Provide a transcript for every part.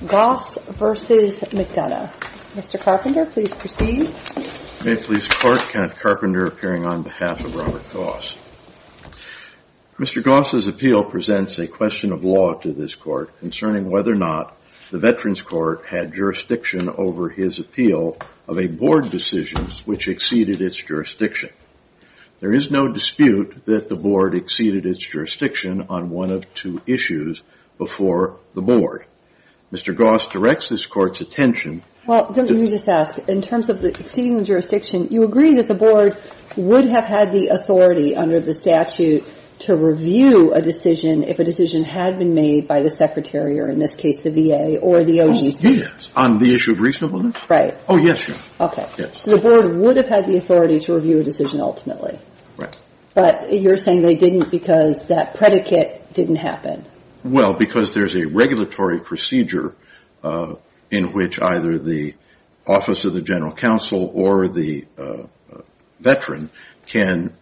Mr. Goss's appeal presents a question of law to this court concerning whether or not the Veterans Court had jurisdiction over his appeal of a board decision which exceeded its jurisdiction. There is no dispute that the board exceeded its jurisdiction on one of two issues before the board. Mr. Goss directs this court's attention. Well, let me just ask. In terms of exceeding the jurisdiction, you agree that the board would have had the authority under the statute to review a decision if a decision had been made by the secretary or, in this case, the VA or the OGC? Oh, yes. On the issue of reasonableness? Right. Oh, yes, sure. Okay. So the board would have had the authority to review a decision ultimately. Right. But you're saying they didn't because that predicate didn't happen. Well, because there's a regulatory procedure in which either the Office of the General Counsel or the Veteran can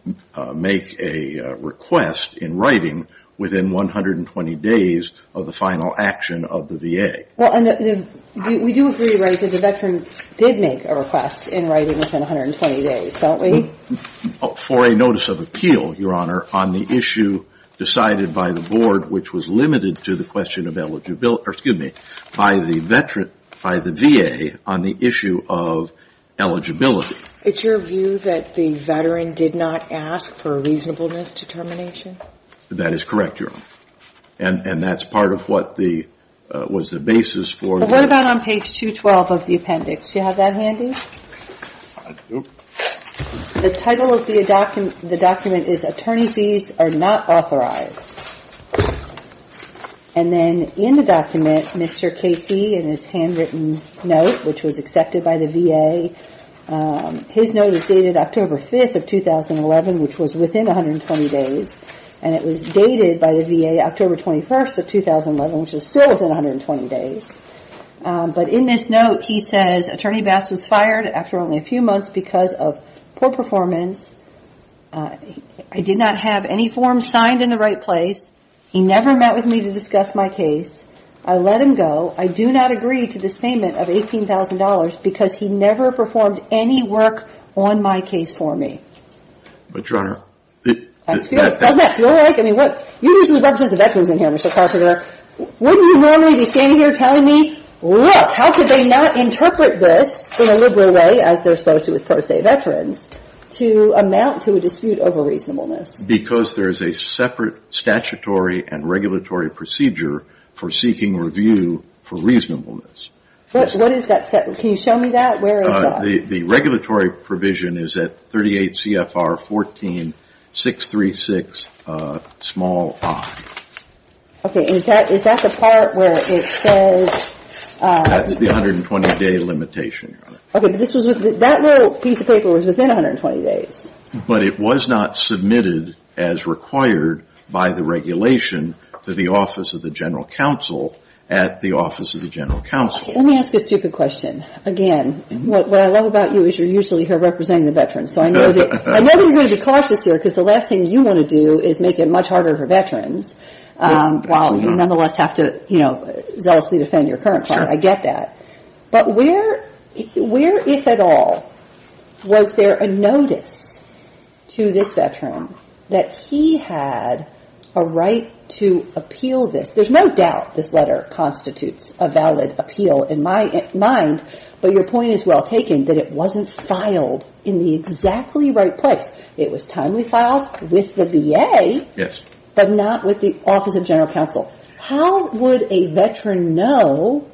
make a request in writing within 120 days of the final action of the VA. Well, we do agree, right, that the Veteran did make a request in writing within 120 days, don't we? Well, for a notice of appeal, Your Honor, on the issue decided by the board which was limited to the question of eligibility or, excuse me, by the VA on the issue of eligibility. It's your view that the Veteran did not ask for reasonableness determination? That is correct, Your Honor. And that's part of what was the basis for the ---- What about on page 212 of the appendix? Do you have that handy? I do. The title of the document is Attorney Fees Are Not Authorized. And then in the document, Mr. Casey in his handwritten note, which was accepted by the VA, his note is dated October 5th of 2011, which was within 120 days. And it was dated by the VA October 21st of 2011, which was still within 120 days. But in this note, he says, Attorney Bass was fired after only a few months because of poor performance. I did not have any forms signed in the right place. He never met with me to discuss my case. I let him go. I do not agree to this payment of $18,000 because he never performed any work on my case for me. But, Your Honor, the ---- Doesn't that feel right? I mean, you usually represent the Veterans in here, Mr. Carpenter. Wouldn't you normally be standing here telling me, look, how could they not interpret this in a liberal way, as they're supposed to with, per se, Veterans, to amount to a dispute over reasonableness? Because there is a separate statutory and regulatory procedure for seeking review for reasonableness. What is that separate? Can you show me that? Where is that? The regulatory provision is at 38 CFR 14-636-i. Okay. And is that the part where it says ---- That is the 120-day limitation, Your Honor. Okay. But that little piece of paper was within 120 days. But it was not submitted as required by the regulation to the Office of the General Counsel at the Office of the General Counsel. Let me ask a stupid question. Again, what I love about you is you're usually here representing the Veterans. So I know you're going to be cautious here because the last thing you want to do is make it much harder for Veterans, while you nonetheless have to, you know, zealously defend your current client. I get that. But where, if at all, was there a notice to this Veteran that he had a right to appeal this? There's no doubt this letter constitutes a valid appeal in my mind. But your point is well taken, that it wasn't filed in the exactly right place. It was timely filed with the VA, but not with the Office of General Counsel. How would a Veteran know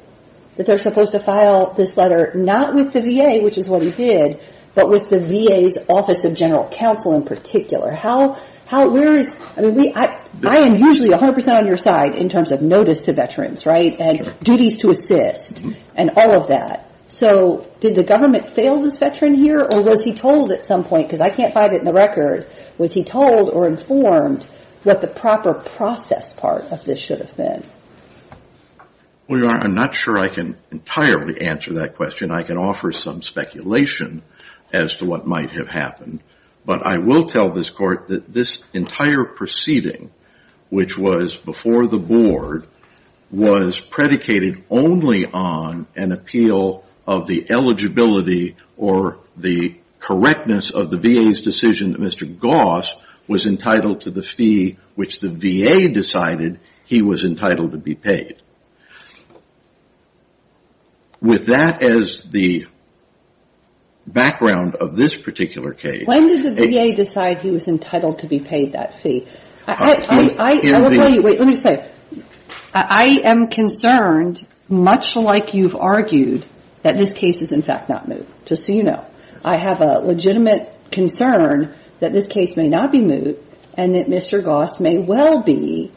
that they're supposed to file this letter not with the VA, which is what he did, but with the VA's Office of General Counsel in particular? I am usually 100 percent on your side in terms of notice to Veterans, right, and duties to assist, and all of that. So did the government fail this Veteran here, or was he told at some point, because I can't find it in the record, was he told or informed what the proper process part of this should have been? Well, Your Honor, I'm not sure I can entirely answer that question. I can offer some speculation as to what might have happened. But I will tell this Court that this entire proceeding, which was before the Board, was predicated only on an appeal of the eligibility or the correctness of the VA's decision that Mr. Goss was entitled to the fee, which the VA decided he was entitled to be paid. With that as the background of this particular case. When did the VA decide he was entitled to be paid that fee? I will tell you. Wait, let me just say. I am concerned, much like you've argued, that this case is in fact not moot, just so you know. I have a legitimate concern that this case may not be moot, and that Mr. Goss may well be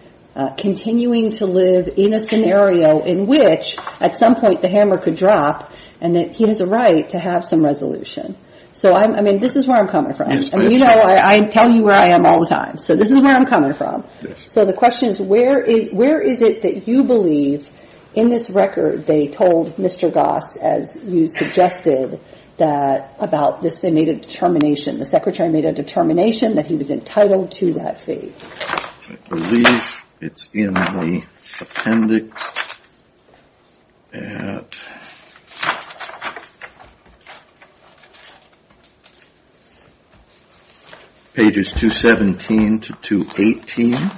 continuing to live in a scenario in which, at some point, the hammer could drop, and that he has a right to have some resolution. So, I mean, this is where I'm coming from. And, you know, I tell you where I am all the time. So this is where I'm coming from. So the question is, where is it that you believe in this record they told Mr. Goss, as you suggested, that about this they made a determination, the Secretary made a determination that he was entitled to that fee? I believe it's in the appendix at pages 217 to 218.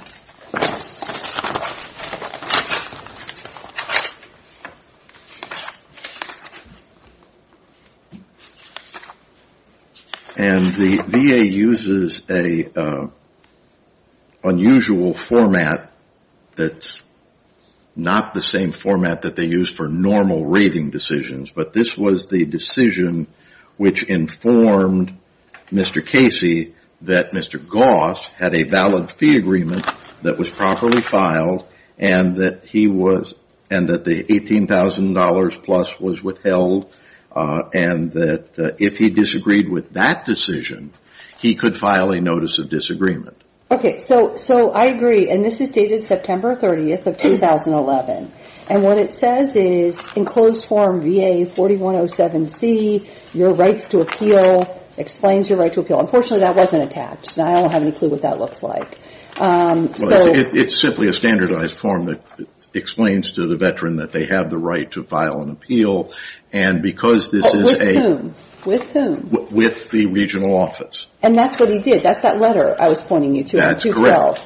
And the VA uses an unusual format that's not the same format that they use for normal rating decisions, but this was the decision which informed Mr. Casey that Mr. Goss had a valid fee agreement that was properly filed, and that the $18,000-plus was withheld, and that if he disagreed with that decision, he could file a notice of disagreement. Okay, so I agree. And this is dated September 30th of 2011. And what it says is, in closed form VA 4107C, your rights to appeal, explains your right to appeal. Unfortunately, that wasn't attached, and I don't have any clue what that looks like. It's simply a standardized form that explains to the veteran that they have the right to file an appeal, and because this is a – With whom? With whom? With the regional office. And that's what he did. That's that letter I was pointing you to in 212.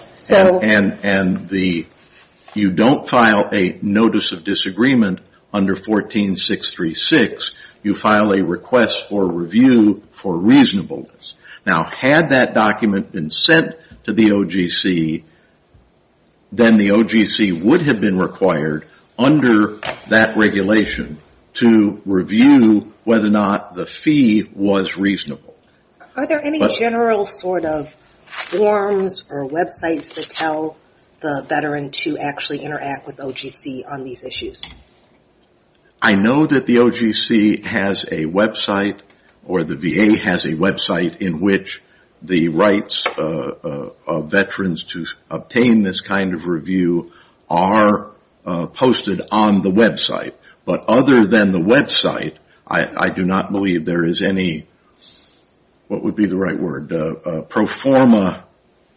You don't file a notice of disagreement under 14636. You file a request for review for reasonableness. Now, had that document been sent to the OGC, then the OGC would have been required, under that regulation, to review whether or not the fee was reasonable. Are there any general sort of forms or websites that tell the veteran to actually interact with OGC on these issues? I know that the OGC has a website, or the VA has a website, in which the rights of veterans to obtain this kind of review are posted on the website. But other than the website, I do not believe there is any – what would be the right word? Pro forma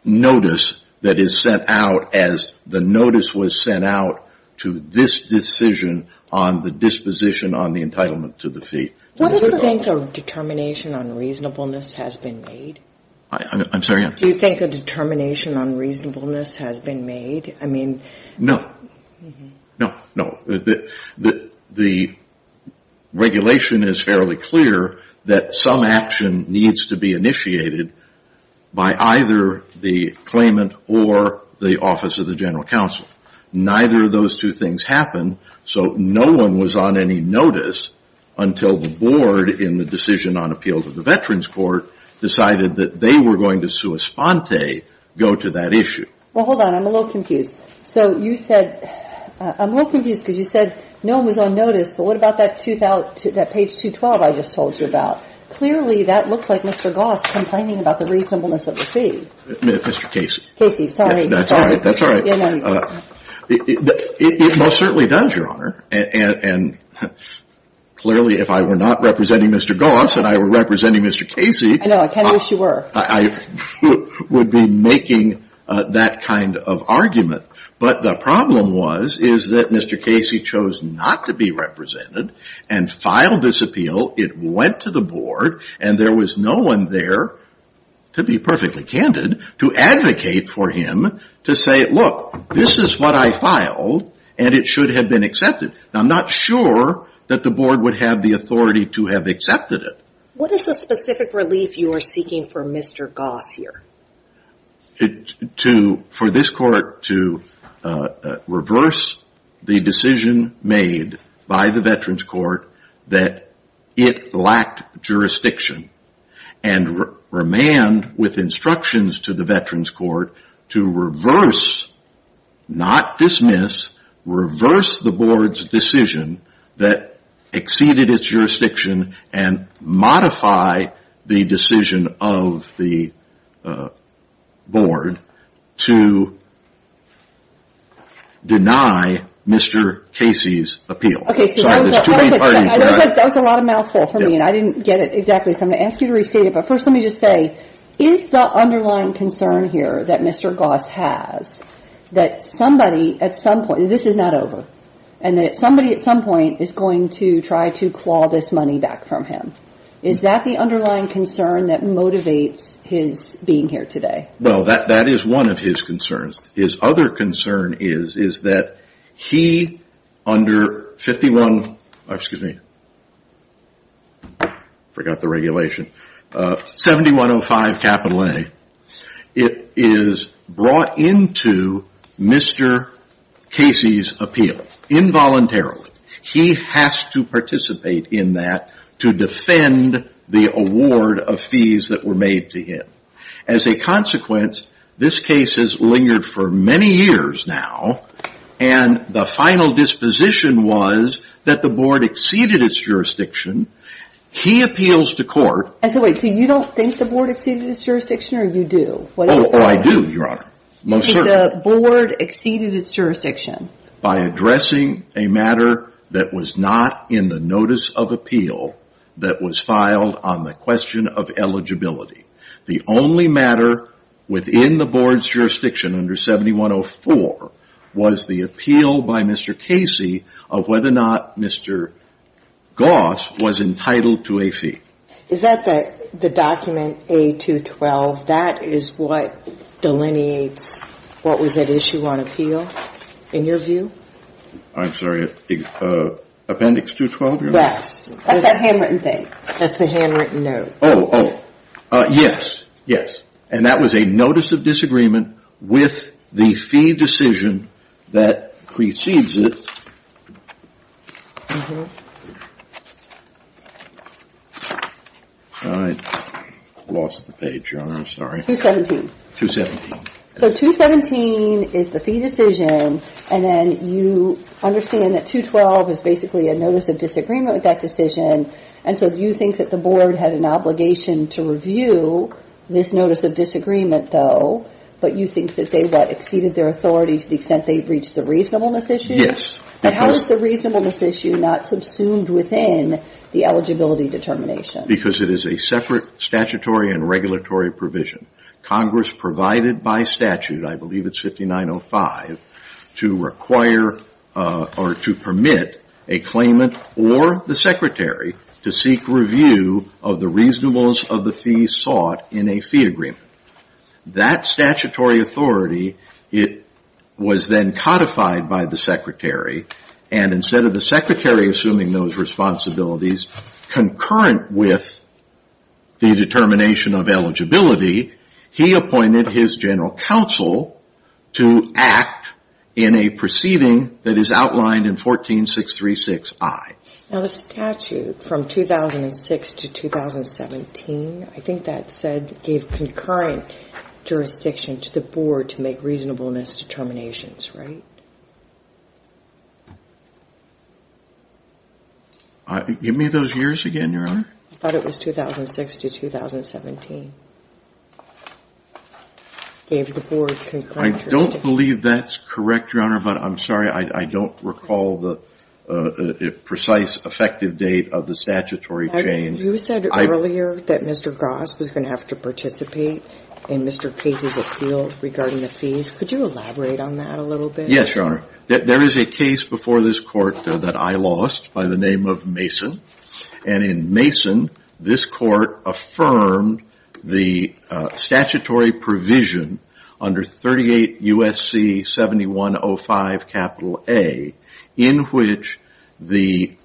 notice that is sent out as the notice was sent out to this decision on the disposition on the entitlement to the fee. Do you think a determination on reasonableness has been made? I'm sorry? Do you think a determination on reasonableness has been made? No. No, no. The regulation is fairly clear that some action needs to be initiated by either the claimant or the Office of the General Counsel. Neither of those two things happened, so no one was on any notice until the board, in the decision on appeal to the Veterans Court, decided that they were going to sua sponte, go to that issue. Well, hold on. I'm a little confused. So you said – I'm a little confused because you said no one was on notice, but what about that page 212 I just told you about? Clearly, that looks like Mr. Goss complaining about the reasonableness of the fee. Mr. Casey. Casey, sorry. That's all right. That's all right. It most certainly does, Your Honor. And clearly, if I were not representing Mr. Goss and I were representing Mr. Casey – I know. I kind of wish you were. I would be making that kind of argument. But the problem was is that Mr. Casey chose not to be represented and filed this appeal. It went to the board, and there was no one there, to be perfectly candid, to advocate for him to say, look, this is what I filed, and it should have been accepted. Now, I'm not sure that the board would have the authority to have accepted it. What is the specific relief you are seeking for Mr. Goss here? For this court to reverse the decision made by the Veterans Court that it lacked jurisdiction and remand with instructions to the Veterans Court to reverse, not dismiss, reverse the board's decision that exceeded its jurisdiction and modify the decision of the board to deny Mr. Casey's appeal. That was a lot of mouthful for me, and I didn't get it exactly. So I'm going to ask you to restate it. But first, let me just say, is the underlying concern here that Mr. Goss has that somebody, at some point, this is not over, and that somebody at some point is going to try to claw this money back from him? Is that the underlying concern that motivates his being here today? Well, that is one of his concerns. His other concern is that he, under 5105 A, is brought into Mr. Casey's appeal, involuntarily. He has to participate in that to defend the award of fees that were made to him. As a consequence, this case has lingered for many years now, and the final disposition was that the board exceeded its jurisdiction. He appeals to court. And so wait, so you don't think the board exceeded its jurisdiction, or you do? Oh, I do, Your Honor. Most certainly. The board exceeded its jurisdiction. By addressing a matter that was not in the notice of appeal that was filed on the question of eligibility. The only matter within the board's jurisdiction, under 7104, was the appeal by Mr. Casey of whether or not Mr. Goss was entitled to a fee. Is that the document, A212, that is what delineates what was at issue on appeal, in your view? I'm sorry, Appendix 212, Your Honor? Yes. That's that handwritten thing. That's the handwritten note. Oh, yes, yes. And that was a notice of disagreement with the fee decision that precedes it. I lost the page, Your Honor. I'm sorry. 217. 217. So 217 is the fee decision, and then you understand that 212 is basically a notice of disagreement with that decision, and so do you think that the board had an obligation to review this notice of disagreement, though, but you think that they, what, exceeded their authority to the extent they breached the reasonableness issue? Yes. And how is the reasonableness issue not subsumed within the eligibility determination? Because it is a separate statutory and regulatory provision. Congress provided by statute, I believe it's 5905, to require or to permit a claimant or the secretary to seek review of the reasonableness of the fee sought in a fee agreement. That statutory authority, it was then codified by the secretary, and instead of the secretary assuming those responsibilities concurrent with the determination of eligibility, he appointed his general counsel to act in a proceeding that is outlined in 14636I. Now, the statute from 2006 to 2017, I think that said it gave concurrent jurisdiction to the board to make reasonableness determinations, right? Give me those years again, Your Honor. I thought it was 2006 to 2017. Gave the board concurrent jurisdiction. I don't believe that's correct, Your Honor, but I'm sorry, I don't recall the precise effective date of the statutory change. You said earlier that Mr. Gross was going to have to participate in Mr. Case's appeal regarding the fees. Could you elaborate on that a little bit? Yes, Your Honor. There is a case before this court that I lost by the name of Mason, and in Mason this court affirmed the statutory provision under 38 U.S.C. 7105 A in which the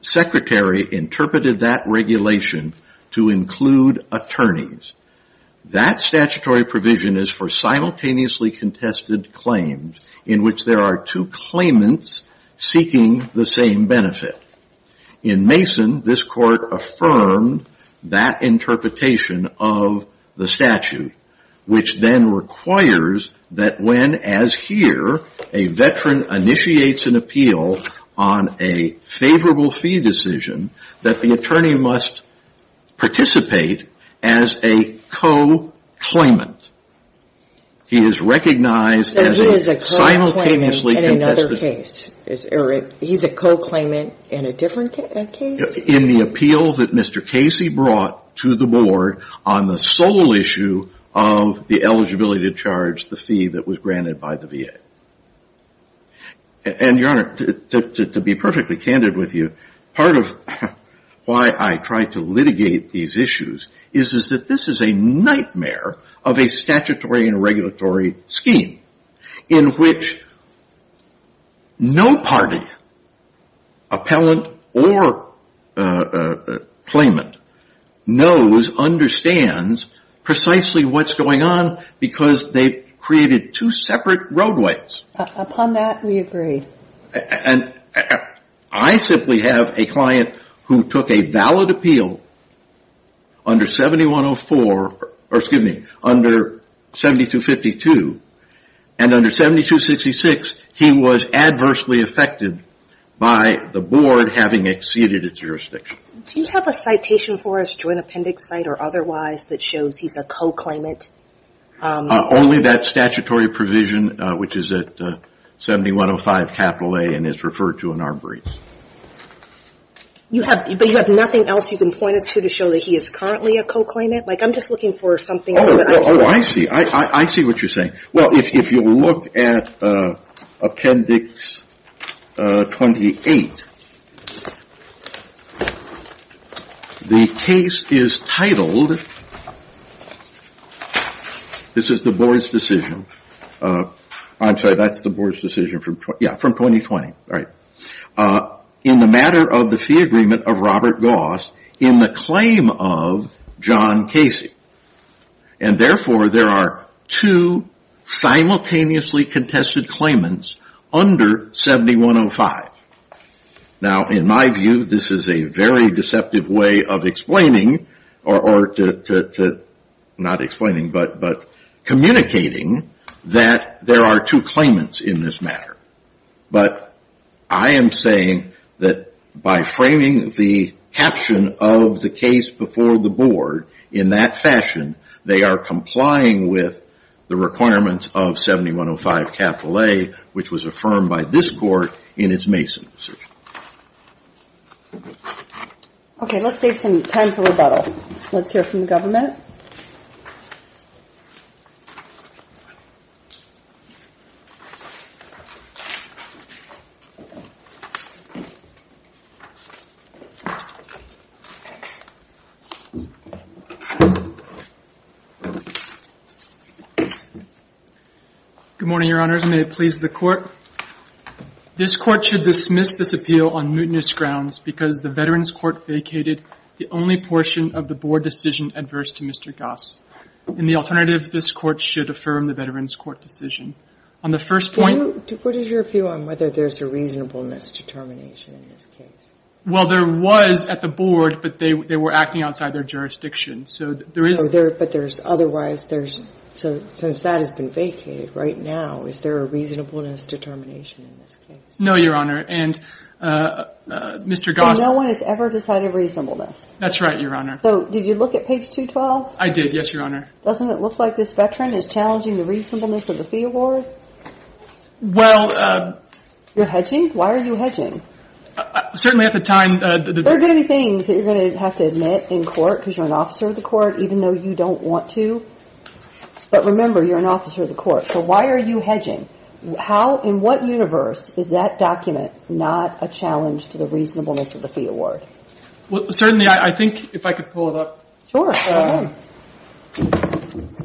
secretary interpreted that regulation to include attorneys. That statutory provision is for simultaneously contested claims in which there are two claimants seeking the same benefit. In Mason, this court affirmed that interpretation of the statute, which then requires that when, as here, a veteran initiates an appeal on a favorable fee decision, that the attorney must participate as a co-claimant. He is recognized as a simultaneously contested claimant. So he is a co-claimant in another case? Or he's a co-claimant in a different case? In the appeal that Mr. Casey brought to the board on the sole issue of the eligibility to charge the fee that was granted by the VA. And, Your Honor, to be perfectly candid with you, part of why I tried to litigate these issues is that this is a nightmare of a statutory and regulatory scheme in which no party, appellant or claimant, knows, understands precisely what's going on because they've created two separate roadways. Upon that, we agree. And I simply have a client who took a valid appeal under 7104, or excuse me, under 7252. And under 7266, he was adversely affected by the board having exceeded its jurisdiction. Do you have a citation for us, joint appendix site or otherwise, that shows he's a co-claimant? Only that statutory provision, which is at 7105 capital A and is referred to in our briefs. But you have nothing else you can point us to to show that he is currently a co-claimant? Like, I'm just looking for something. Oh, I see. I see what you're saying. Well, if you look at appendix 28, the case is titled, this is the board's decision. I'm sorry, that's the board's decision from 2020. In the matter of the fee agreement of Robert Goss, in the claim of John Casey. And therefore, there are two simultaneously contested claimants under 7105. Now, in my view, this is a very deceptive way of explaining or to, not explaining, but communicating that there are two claimants in this matter. But I am saying that by framing the caption of the case before the board in that fashion, they are complying with the requirements of 7105 capital A, which was affirmed by this court in its Mason version. Okay, let's save some time for rebuttal. Let's hear from the government. Good morning, your honors. May it please the court. This Court should dismiss this appeal on mutinous grounds because the Veterans Court vacated the only portion of the board decision adverse to Mr. Goss. In the alternative, this Court should affirm the Veterans Court decision. On the first point. What is your view on whether there's a reasonableness determination in this case? Well, there was at the board, but they were acting outside their jurisdiction. So there is. But there's otherwise. So since that has been vacated right now, is there a reasonableness determination in this case? No, your honor. And Mr. Goss. No one has ever decided reasonableness. That's right, your honor. So did you look at page 212? I did, yes, your honor. Doesn't it look like this veteran is challenging the reasonableness of the fee award? Well. You're hedging? Why are you hedging? Certainly at the time. There are going to be things that you're going to have to admit in court because you're an officer of the court, even though you don't want to. But remember, you're an officer of the court. So why are you hedging? How in what universe is that document not a challenge to the reasonableness of the fee award? Well, certainly I think if I could pull it up. Sure.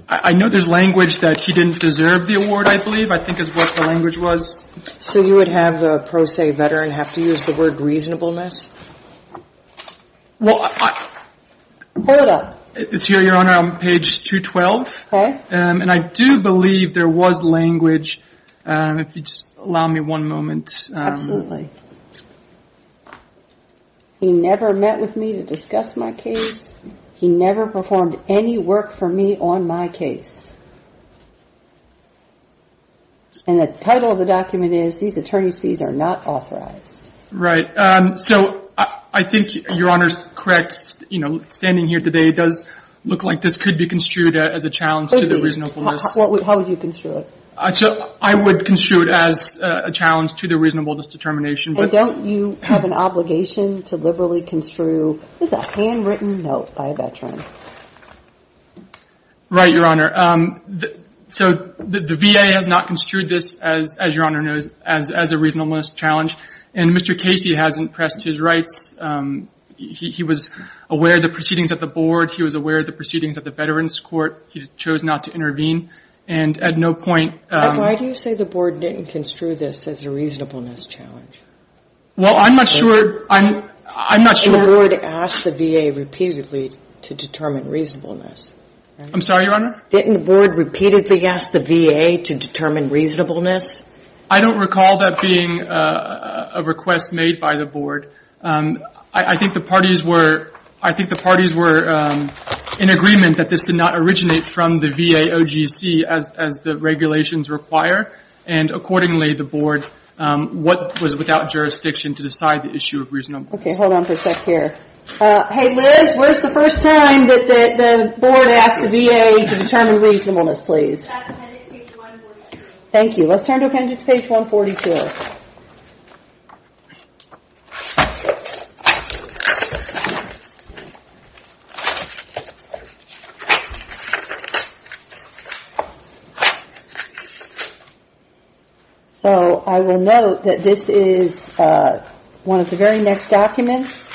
I know there's language that she didn't deserve the award, I believe, I think is what the language was. So you would have the pro se veteran have to use the word reasonableness? Well, I. Pull it up. It's here, your honor, on page 212. Okay. And I do believe there was language. If you just allow me one moment. Absolutely. He never met with me to discuss my case. He never performed any work for me on my case. And the title of the document is, these attorney's fees are not authorized. Right. So I think your honor's correct. You know, standing here today does look like this could be construed as a challenge to the reasonableness. How would you construe it? I would construe it as a challenge to the reasonableness determination. And don't you have an obligation to liberally construe, this is a handwritten note by a veteran. Right, your honor. So the VA has not construed this, as your honor knows, as a reasonableness challenge. And Mr. Casey hasn't pressed his rights. He was aware of the proceedings at the board. He was aware of the proceedings at the veterans court. He chose not to intervene. And at no point. Why do you say the board didn't construe this as a reasonableness challenge? Well, I'm not sure. The board asked the VA repeatedly to determine reasonableness. I'm sorry, your honor? Didn't the board repeatedly ask the VA to determine reasonableness? I don't recall that being a request made by the board. I think the parties were in agreement that this did not originate from the VA OGC, as the regulations require. And accordingly, the board was without jurisdiction to decide the issue of reasonableness. Okay, hold on for a sec here. Hey Liz, where's the first time that the board asked the VA to determine reasonableness, please? At appendix page 142. Thank you. Let's turn to appendix page 142. So, I will note that this is one of the very next documents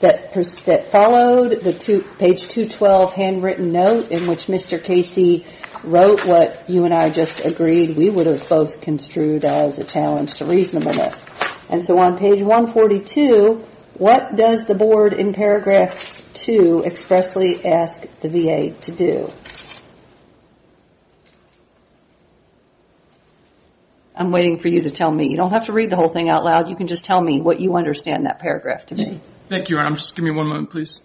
that followed the page 212 handwritten note in which Mr. Casey wrote what you and I just agreed we would have both construed as a challenge to reasonableness. And so on page 142, what does the board in paragraph 2 expressly ask the VA to do? I'm waiting for you to tell me. You don't have to read the whole thing out loud. You can just tell me what you understand in that paragraph to me. Thank you, your honor. Just give me one moment, please.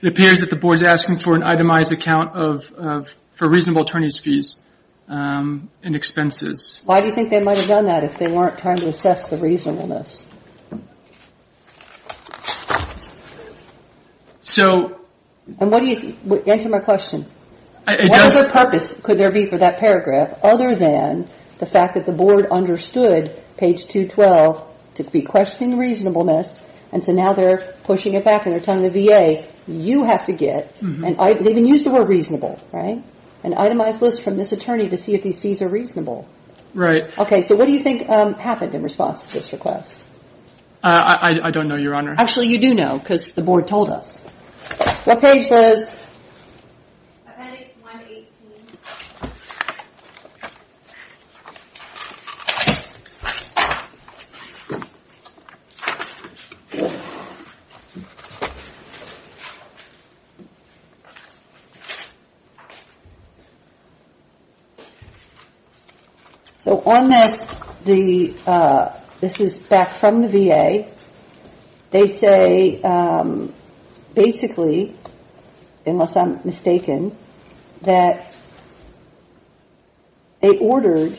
It appears that the board is asking for an itemized account for reasonable attorney's fees and expenses. Why do you think they might have done that if they weren't trying to assess the reasonableness? Answer my question. What other purpose could there be for that paragraph other than the fact that the board understood page 212 to be questioning reasonableness and so now they're pushing it back and they're telling the VA you have to get and they even use the word reasonable, right? An itemized list from this attorney to see if these fees are reasonable. Right. Okay, so what do you think happened in response to this request? I don't know, your honor. Actually, you do know because the board told us. What page says? Appendix 118. So on this, this is back from the VA. They say basically, unless I'm mistaken, that they ordered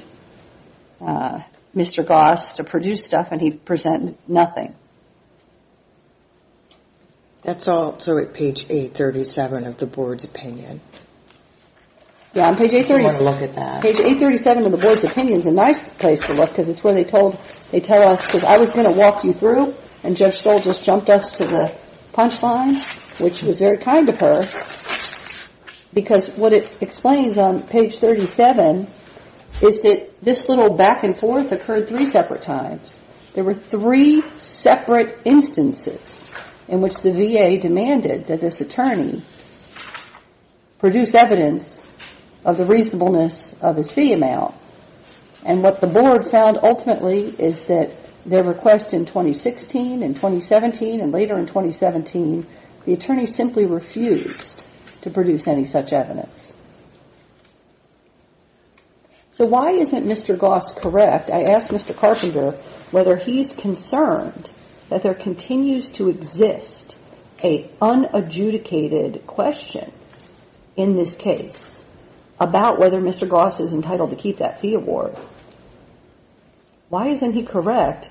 Mr. Goss to produce stuff and he presented nothing. That's also at page 837 of the board's opinion. Yeah, on page 837. I want to look at that. Page 837 of the board's opinion is a nice place to look because it's where they told, they tell us, because I was going to walk you through and Judge Stoll just jumped us to the punchline, which was very kind of her because what it explains on page 37 is that this little back and forth occurred three separate times. There were three separate instances in which the VA demanded that this attorney produce evidence of the reasonableness of his fee amount and what the board found ultimately is that their request in 2016 and 2017 and later in 2017, the attorney simply refused to produce any such evidence. So why isn't Mr. Goss correct? I asked Mr. Carpenter whether he's concerned that there continues to exist an unadjudicated question in this case about whether Mr. Goss is entitled to keep that fee award. Why isn't he correct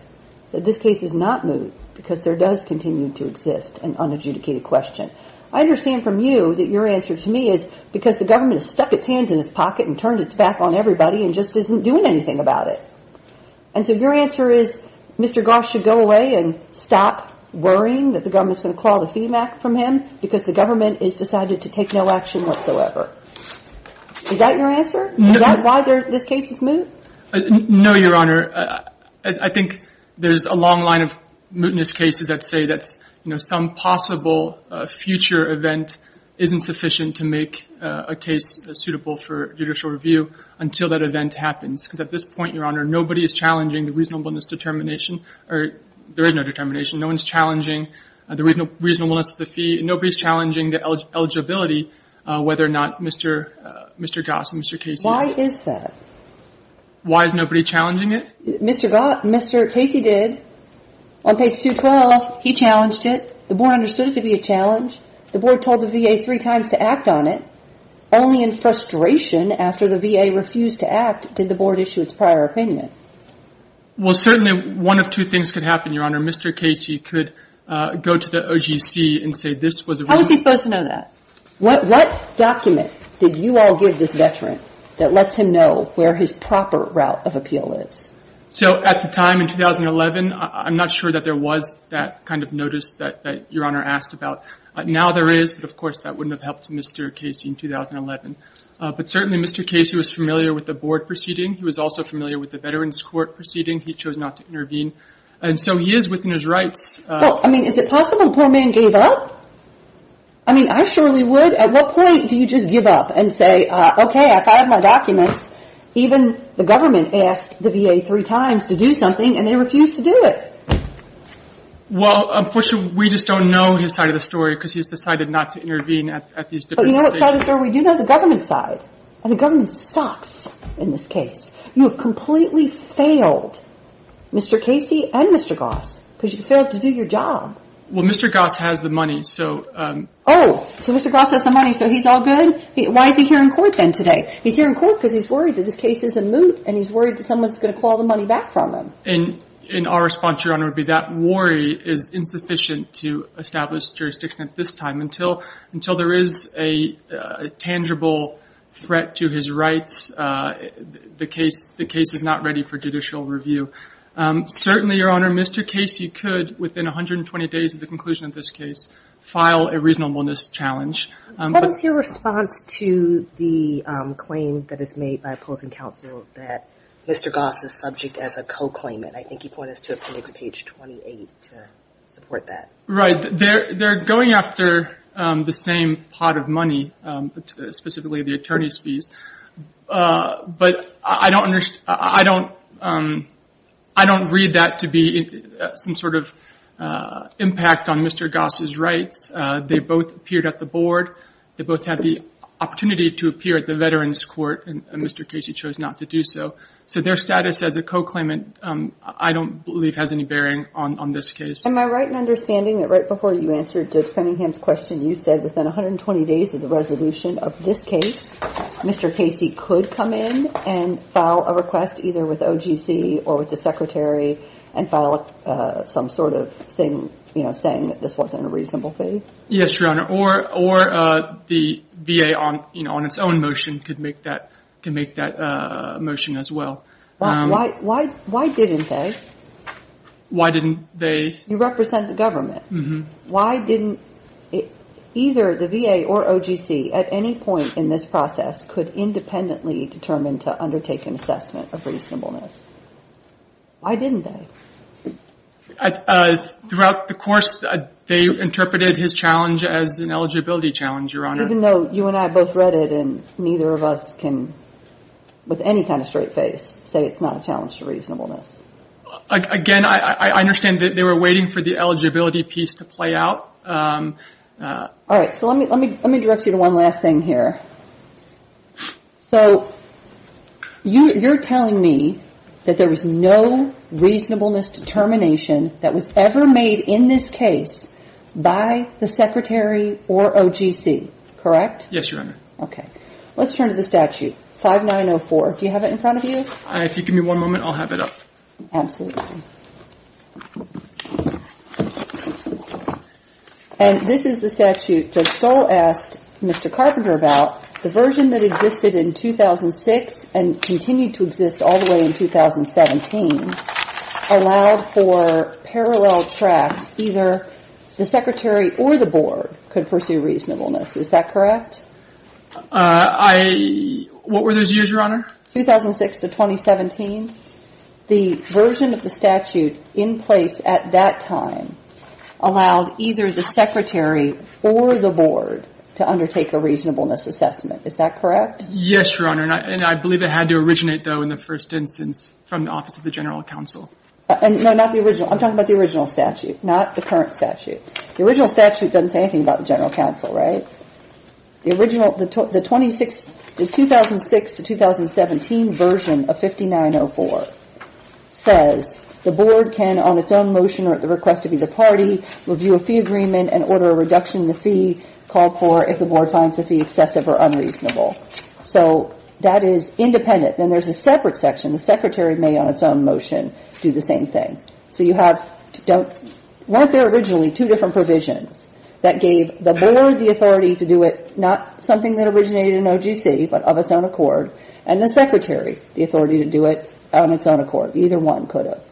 that this case is not moot because there does continue to exist an unadjudicated question? I understand from you that your answer to me is because the government has stuck its hands in its pocket and turned its back on everybody and just isn't doing anything about it. And so your answer is Mr. Goss should go away and stop worrying that the government is going to claw the fee back from him because the government has decided to take no action whatsoever. Is that your answer? Is that why this case is moot? No, Your Honor. I think there's a long line of mootness cases that say that some possible future event isn't sufficient to make a case suitable for judicial review until that event happens. Because at this point, Your Honor, nobody is challenging the reasonableness determination. There is no determination. No one is challenging the reasonableness of the fee. Nobody is challenging the eligibility, whether or not Mr. Goss or Mr. Casey. Why is that? Why is nobody challenging it? Mr. Goss, Mr. Casey did. On page 212, he challenged it. The board understood it to be a challenge. The board told the VA three times to act on it. Only in frustration after the VA refused to act did the board issue its prior opinion. Well, certainly one of two things could happen, Your Honor. Mr. Casey could go to the OGC and say this was a reason. How was he supposed to know that? What document did you all give this veteran that lets him know where his proper route of appeal is? So at the time in 2011, I'm not sure that there was that kind of notice that Your Honor asked about. Now there is, but of course that wouldn't have helped Mr. Casey in 2011. But certainly Mr. Casey was familiar with the board proceeding. He was also familiar with the Veterans Court proceeding. He chose not to intervene. And so he is within his rights. Well, I mean, is it possible the poor man gave up? I mean, I surely would. At what point do you just give up and say, okay, I filed my documents. Even the government asked the VA three times to do something, and they refused to do it. Well, unfortunately, we just don't know his side of the story because he's decided not to intervene at these different states. But you know what side of the story we do know? The government side. And the government sucks in this case. You have completely failed Mr. Casey and Mr. Goss because you failed to do your job. Well, Mr. Goss has the money, so. Oh, so Mr. Goss has the money, so he's all good? Why is he here in court then today? He's here in court because he's worried that this case is a moot and he's worried that someone's going to claw the money back from him. And our response, Your Honor, would be that worry is insufficient to establish jurisdiction at this time. Until there is a tangible threat to his rights, the case is not ready for judicial review. Certainly, Your Honor, Mr. Casey could, within 120 days of the conclusion of this case, file a reasonableness challenge. What is your response to the claim that is made by opposing counsel that Mr. Goss is subject as a co-claimant? I think he pointed us to appendix page 28 to support that. Right. They're going after the same pot of money, specifically the attorney's fees. But I don't read that to be some sort of impact on Mr. Goss's rights. They both appeared at the board. They both had the opportunity to appear at the veterans' court, and Mr. Casey chose not to do so. So their status as a co-claimant I don't believe has any bearing on this case. Am I right in understanding that right before you answered Judge Cunningham's question, you said within 120 days of the resolution of this case, Mr. Casey could come in and file a request either with OGC or with the secretary and file some sort of thing saying that this wasn't a reasonable fee? Yes, Your Honor. Or the VA on its own motion could make that motion as well. Why didn't they? Why didn't they? You represent the government. Why didn't either the VA or OGC at any point in this process could independently determine to undertake an assessment of reasonableness? Why didn't they? Throughout the course, they interpreted his challenge as an eligibility challenge, Your Honor. Even though you and I both read it and neither of us can, with any kind of straight face, say it's not a challenge to reasonableness. Again, I understand that they were waiting for the eligibility piece to play out. All right, so let me direct you to one last thing here. So you're telling me that there was no reasonableness determination that was ever made in this case by the secretary or OGC, correct? Yes, Your Honor. Okay. Let's turn to the statute, 5904. Do you have it in front of you? If you give me one moment, I'll have it up. Absolutely. And this is the statute that Stoll asked Mr. Carpenter about. The version that existed in 2006 and continued to exist all the way in 2017 allowed for parallel tracks. Either the secretary or the board could pursue reasonableness. Is that correct? I – what were those years, Your Honor? 2006 to 2017. The version of the statute in place at that time allowed either the secretary or the board to undertake a reasonableness assessment. Is that correct? Yes, Your Honor. And I believe it had to originate, though, in the first instance from the Office of the General Counsel. No, not the original. I'm talking about the original statute, not the current statute. The original statute doesn't say anything about the General Counsel, right? The 2006 to 2017 version of 5904 says the board can, on its own motion or at the request of either party, review a fee agreement and order a reduction in the fee called for if the board finds the fee excessive or unreasonable. So that is independent. Then there's a separate section. The secretary may, on its own motion, do the same thing. So you have – weren't there originally two different provisions that gave the board the authority to do it, not something that originated in OGC, but of its own accord, and the secretary the authority to do it on its own accord? Either one could have.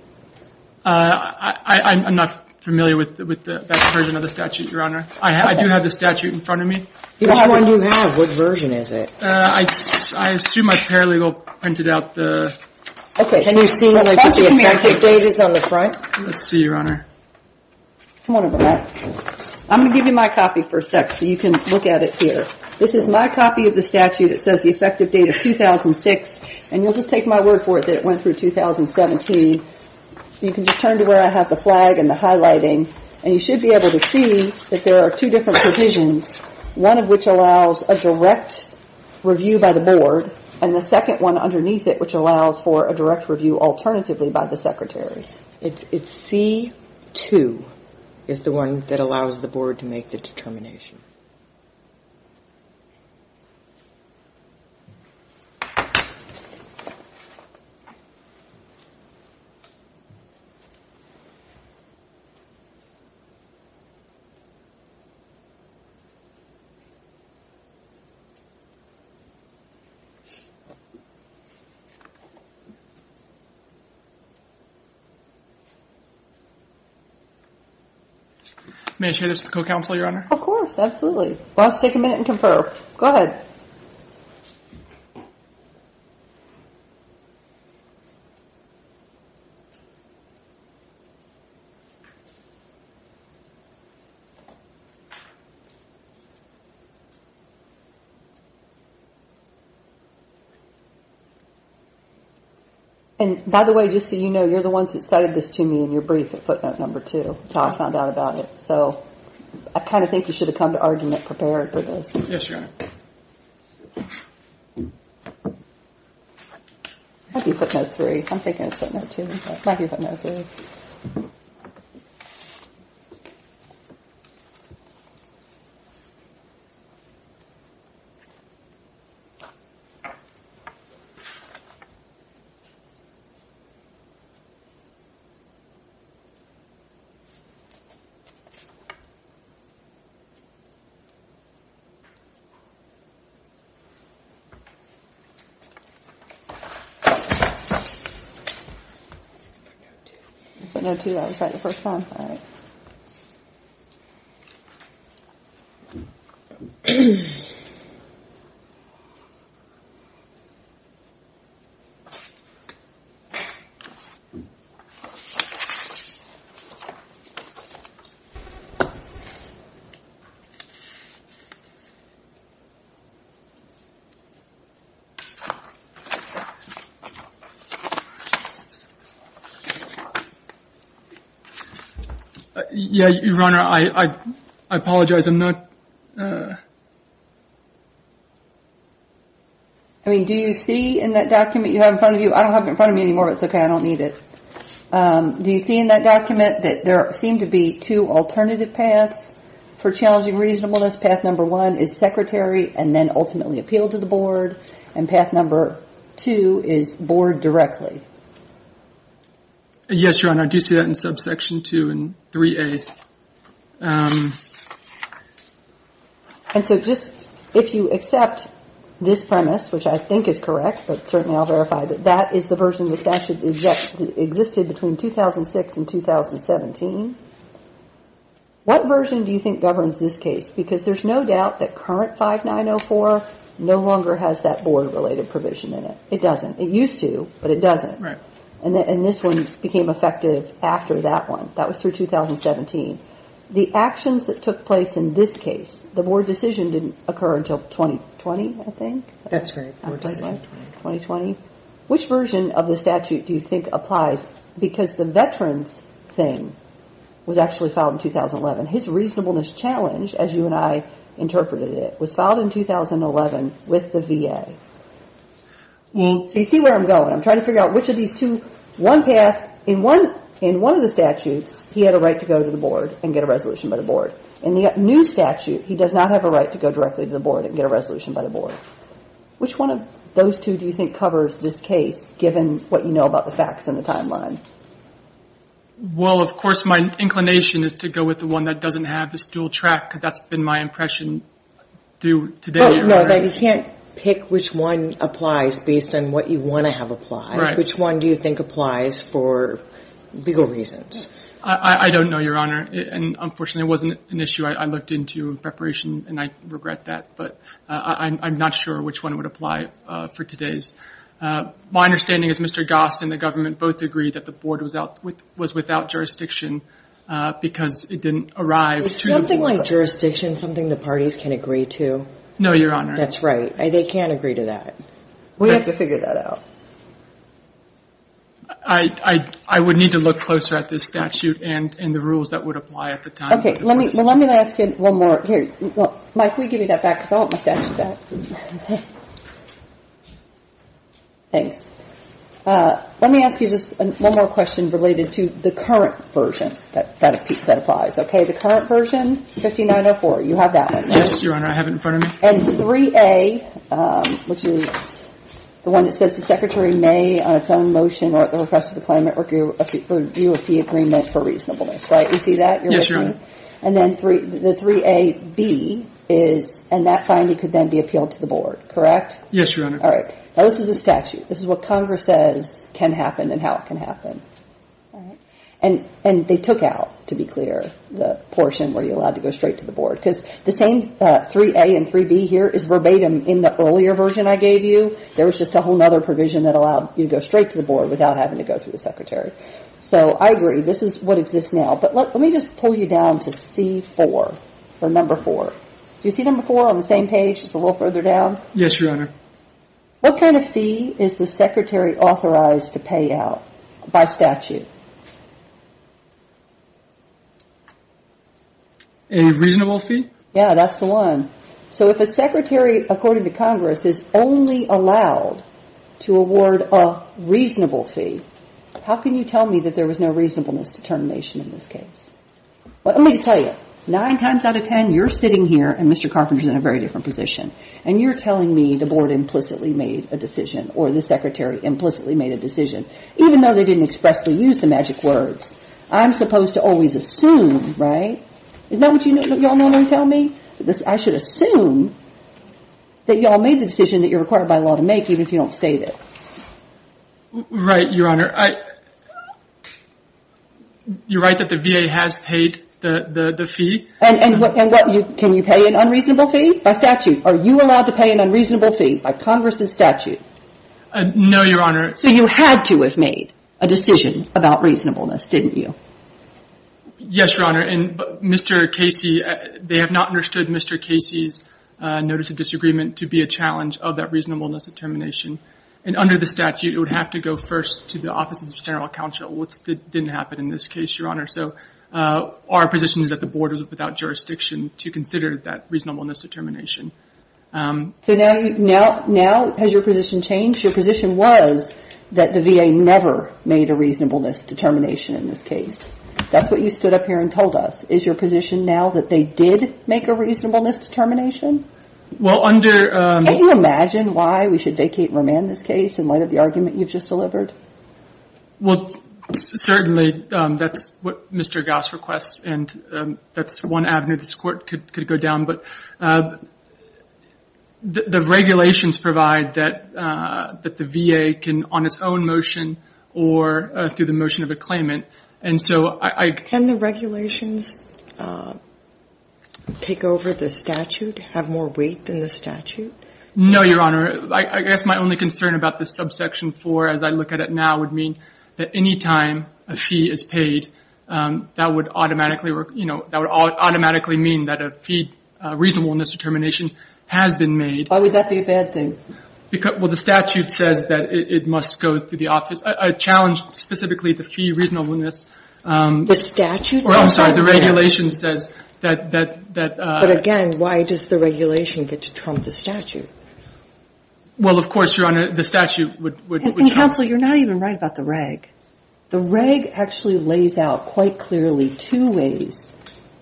I'm not familiar with that version of the statute, Your Honor. I do have the statute in front of me. Which one do you have? What version is it? I assume I paralegal printed out the – Let's see, Your Honor. Come on over, Matt. I'm going to give you my copy for a sec so you can look at it here. This is my copy of the statute. It says the effective date of 2006, and you'll just take my word for it that it went through 2017. You can just turn to where I have the flag and the highlighting, and you should be able to see that there are two different provisions, one of which allows a direct review by the board, and the second one underneath it, which allows for a direct review alternatively by the secretary. It's C-2 is the one that allows the board to make the determination. May I share this with the co-counsel, Your Honor? Of course. Absolutely. We'll just take a minute and confer. Go ahead. And by the way, just so you know, you're the ones that cited this to me in your brief at footnote number two, until I found out about it. So I kind of think you should have come to argument prepared for this. Yes, Your Honor. Might be footnote three. I'm thinking it's footnote two. Might be footnote three. All right. It's footnote two. I was right the first time. All right. Thank you. Yeah, Your Honor, I apologize. I'm not. I mean, do you see in that document you have in front of you? I don't have it in front of me anymore, but it's okay. I don't need it. Do you see in that document that there seem to be two alternative paths for challenging reasonableness? Path number one is secretary and then ultimately appeal to the board, and path number two is board directly. Yes, Your Honor. I do see that in subsection two and 3A. And so just if you accept this premise, which I think is correct, but certainly I'll verify that that is the version of the statute that existed between 2006 and 2017, what version do you think governs this case? Because there's no doubt that current 5904 no longer has that board-related provision in it. It doesn't. It used to, but it doesn't. Right. And this one became effective after that one. That was through 2017. The actions that took place in this case, the board decision didn't occur until 2020, I think. That's right. 2020. Which version of the statute do you think applies? Because the veterans thing was actually filed in 2011. His reasonableness challenge, as you and I interpreted it, was filed in 2011 with the VA. So you see where I'm going. I'm trying to figure out which of these two, one path, in one of the statutes, he had a right to go to the board and get a resolution by the board. In the new statute, he does not have a right to go directly to the board and get a resolution by the board. Which one of those two do you think covers this case, given what you know about the facts and the timeline? Well, of course, my inclination is to go with the one that doesn't have this dual track, because that's been my impression due today, Your Honor. No, you can't pick which one applies based on what you want to have apply. Right. Which one do you think applies for legal reasons? I don't know, Your Honor. Unfortunately, it wasn't an issue I looked into in preparation, and I regret that. But I'm not sure which one would apply for today's. My understanding is Mr. Goss and the government both agreed that the board was without jurisdiction because it didn't arrive through the board. Is something like jurisdiction something the parties can agree to? No, Your Honor. That's right. They can't agree to that. We have to figure that out. I would need to look closer at this statute and the rules that would apply at the time. Okay. Well, let me ask you one more. Here. Mike, will you give me that back, because I want my statute back. Thanks. Let me ask you just one more question related to the current version that applies. Okay. The current version, 5904, you have that one. Yes, Your Honor. I have it in front of me. And 3A, which is the one that says the Secretary may, on its own motion or at the request of the client network, review a P agreement for reasonableness, right? You see that? Yes, Your Honor. And then the 3AB is, and that finding could then be appealed to the board, correct? Yes, Your Honor. All right. Now, this is a statute. This is what Congress says can happen and how it can happen. All right. And they took out, to be clear, the portion where you're allowed to go straight to the board. Because the same 3A and 3B here is verbatim in the earlier version I gave you. There was just a whole other provision that allowed you to go straight to the board without having to go through the Secretary. So I agree. This is what exists now. But let me just pull you down to C4, for number four. Do you see number four on the same page, just a little further down? Yes, Your Honor. What kind of fee is the Secretary authorized to pay out by statute? A reasonable fee? Yes, that's the one. So if a Secretary, according to Congress, is only allowed to award a reasonable fee, how can you tell me that there was no reasonableness determination in this case? Let me just tell you. Nine times out of ten, you're sitting here and Mr. Carpenter is in a very different position. And you're telling me the board implicitly made a decision or the Secretary implicitly made a decision, even though they didn't expressly use the magic words. I'm supposed to always assume, right? Isn't that what you all normally tell me? I should assume that you all made the decision that you're required by law to make, even if you don't state it. Right, Your Honor. You're right that the VA has paid the fee. And what? Can you pay an unreasonable fee by statute? Are you allowed to pay an unreasonable fee by Congress's statute? No, Your Honor. So you had to have made a decision about reasonableness, didn't you? Yes, Your Honor. And Mr. Casey, they have not understood Mr. Casey's notice of disagreement to be a challenge of that reasonableness determination. And under the statute, it would have to go first to the Office of the General Counsel, which didn't happen in this case, Your Honor. So our position is that the board was without jurisdiction to consider that reasonableness determination. So now has your position changed? Your position was that the VA never made a reasonableness determination in this case. That's what you stood up here and told us. Is your position now that they did make a reasonableness determination? Well, under- Can you imagine why we should vacate and remand this case in light of the argument you've just delivered? Well, certainly, that's what Mr. Goss requests, and that's one avenue this Court could go down. But the regulations provide that the VA can on its own motion or through the motion of a claimant. And so I- Can the regulations take over the statute, have more weight than the statute? No, Your Honor. I guess my only concern about this subsection 4 as I look at it now would mean that any time a fee is paid, that would automatically mean that a fee reasonableness determination has been made. Why would that be a bad thing? Well, the statute says that it must go through the office. I challenge specifically the fee reasonableness- The statute says- Oh, I'm sorry. The regulation says that- But again, why does the regulation get to trump the statute? Well, of course, Your Honor, the statute would- Counsel, you're not even right about the reg. The reg actually lays out quite clearly two ways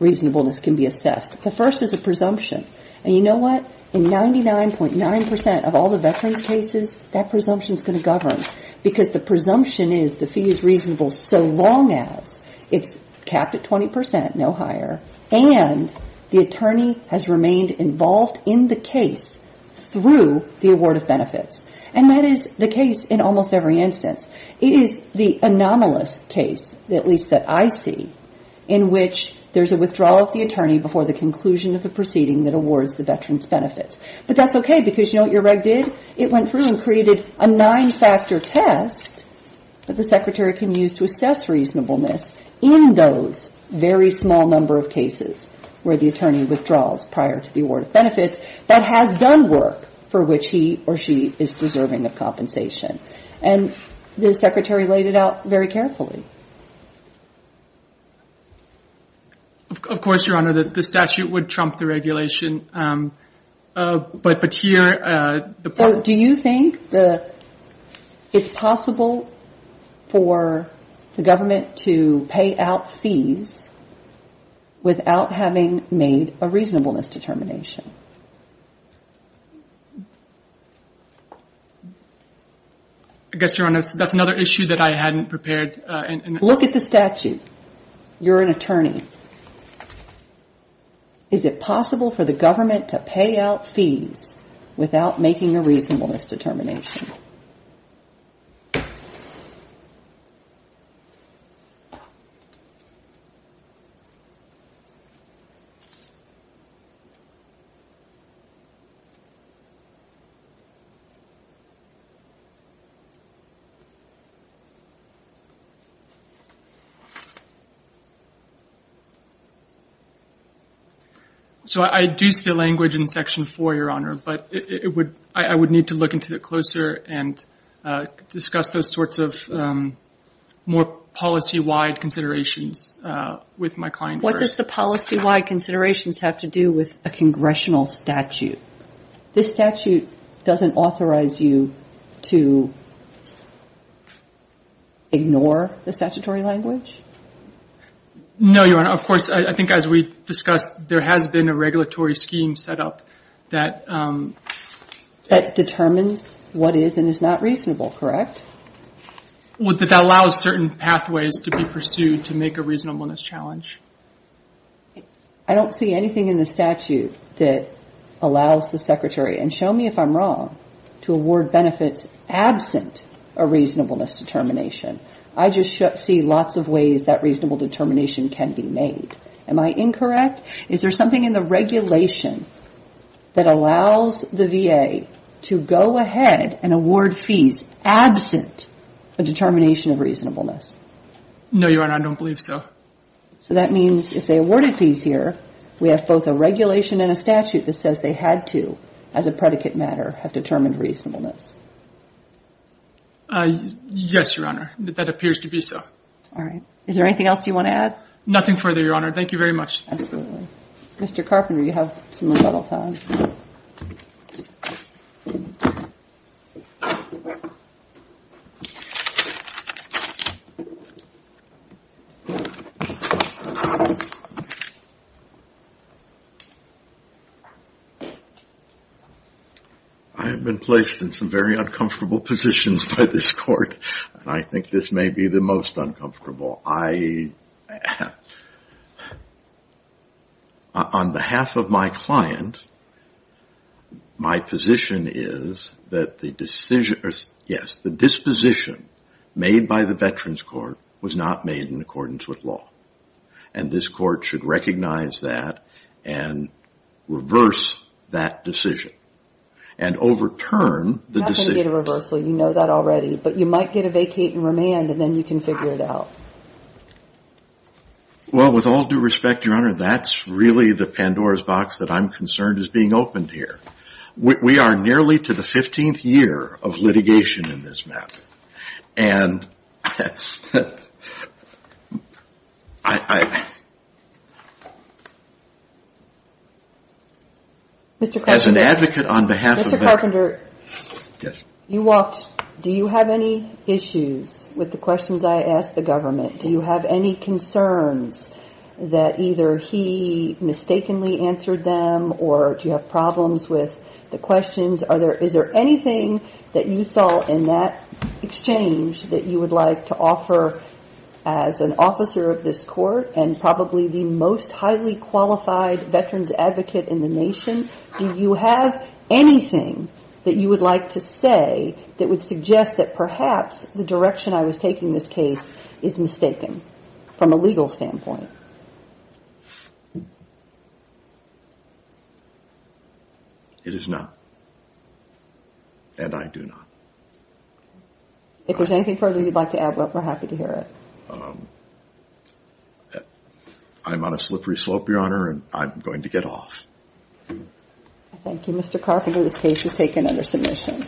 reasonableness can be assessed. The first is a presumption. And you know what? In 99.9% of all the veterans' cases, that presumption is going to govern, because the presumption is the fee is reasonable so long as it's capped at 20%, no higher, and the attorney has remained involved in the case through the award of benefits. And that is the case in almost every instance. It is the anomalous case, at least that I see, in which there's a withdrawal of the attorney before the conclusion of the proceeding that awards the veteran's benefits. But that's okay, because you know what your reg did? It went through and created a nine-factor test that the secretary can use to assess reasonableness in those very small number of cases where the attorney withdraws prior to the award of benefits that has done work for which he or she is deserving of compensation. And the secretary laid it out very carefully. Of course, Your Honor, the statute would trump the regulation. But here the problem is. So do you think it's possible for the government to pay out fees without having made a reasonableness determination? I guess, Your Honor, that's another issue that I hadn't prepared. Look at the statute. You're an attorney. Is it possible for the government to pay out fees without making a reasonableness determination? So I do see the language in Section 4, Your Honor. But I would need to look into it closer and discuss those sorts of more policy-wide considerations with my client first. What does the policy-wide considerations have to do with a congressional statute? This statute doesn't authorize you to ignore the statutory language? No, Your Honor. Of course, I think as we discussed, there has been a regulatory scheme set up that. That determines what is and is not reasonable, correct? That allows certain pathways to be pursued to make a reasonableness challenge. I don't see anything in the statute that allows the secretary, and show me if I'm wrong, to award benefits absent a reasonableness determination. I just see lots of ways that reasonable determination can be made. Am I incorrect? Is there something in the regulation that allows the VA to go ahead and award fees absent a determination of reasonableness? No, Your Honor, I don't believe so. So that means if they awarded fees here, we have both a regulation and a statute that says they had to, as a predicate matter, have determined reasonableness. Yes, Your Honor, that appears to be so. All right. Is there anything else you want to add? Nothing further, Your Honor. Thank you very much. Absolutely. Mr. Carpenter, you have some time. I have been placed in some very uncomfortable positions by this court, and I think this may be the most uncomfortable. I, on behalf of my client, I would like to say that I do not agree with the statute. My position is that the disposition made by the Veterans Court was not made in accordance with law, and this court should recognize that and reverse that decision and overturn the decision. You're not going to get a reversal. You know that already. But you might get a vacate and remand, and then you can figure it out. Well, with all due respect, Your Honor, that's really the Pandora's box that I'm concerned is being opened here. We are nearly to the 15th year of litigation in this matter. And I, as an advocate on behalf of Veterans Court, You walked. Do you have any issues with the questions I asked the government? Do you have any concerns that either he mistakenly answered them, or do you have problems with the questions? Is there anything that you saw in that exchange that you would like to offer as an officer of this court and probably the most highly qualified veterans advocate in the nation? Do you have anything that you would like to say that would suggest that perhaps the direction I was taking this case is mistaken from a legal standpoint? It is not, and I do not. If there's anything further you'd like to add, we're happy to hear it. I'm on a slippery slope, Your Honor, and I'm going to get off. Thank you, Mr. Carpenter. This case is taken under submission.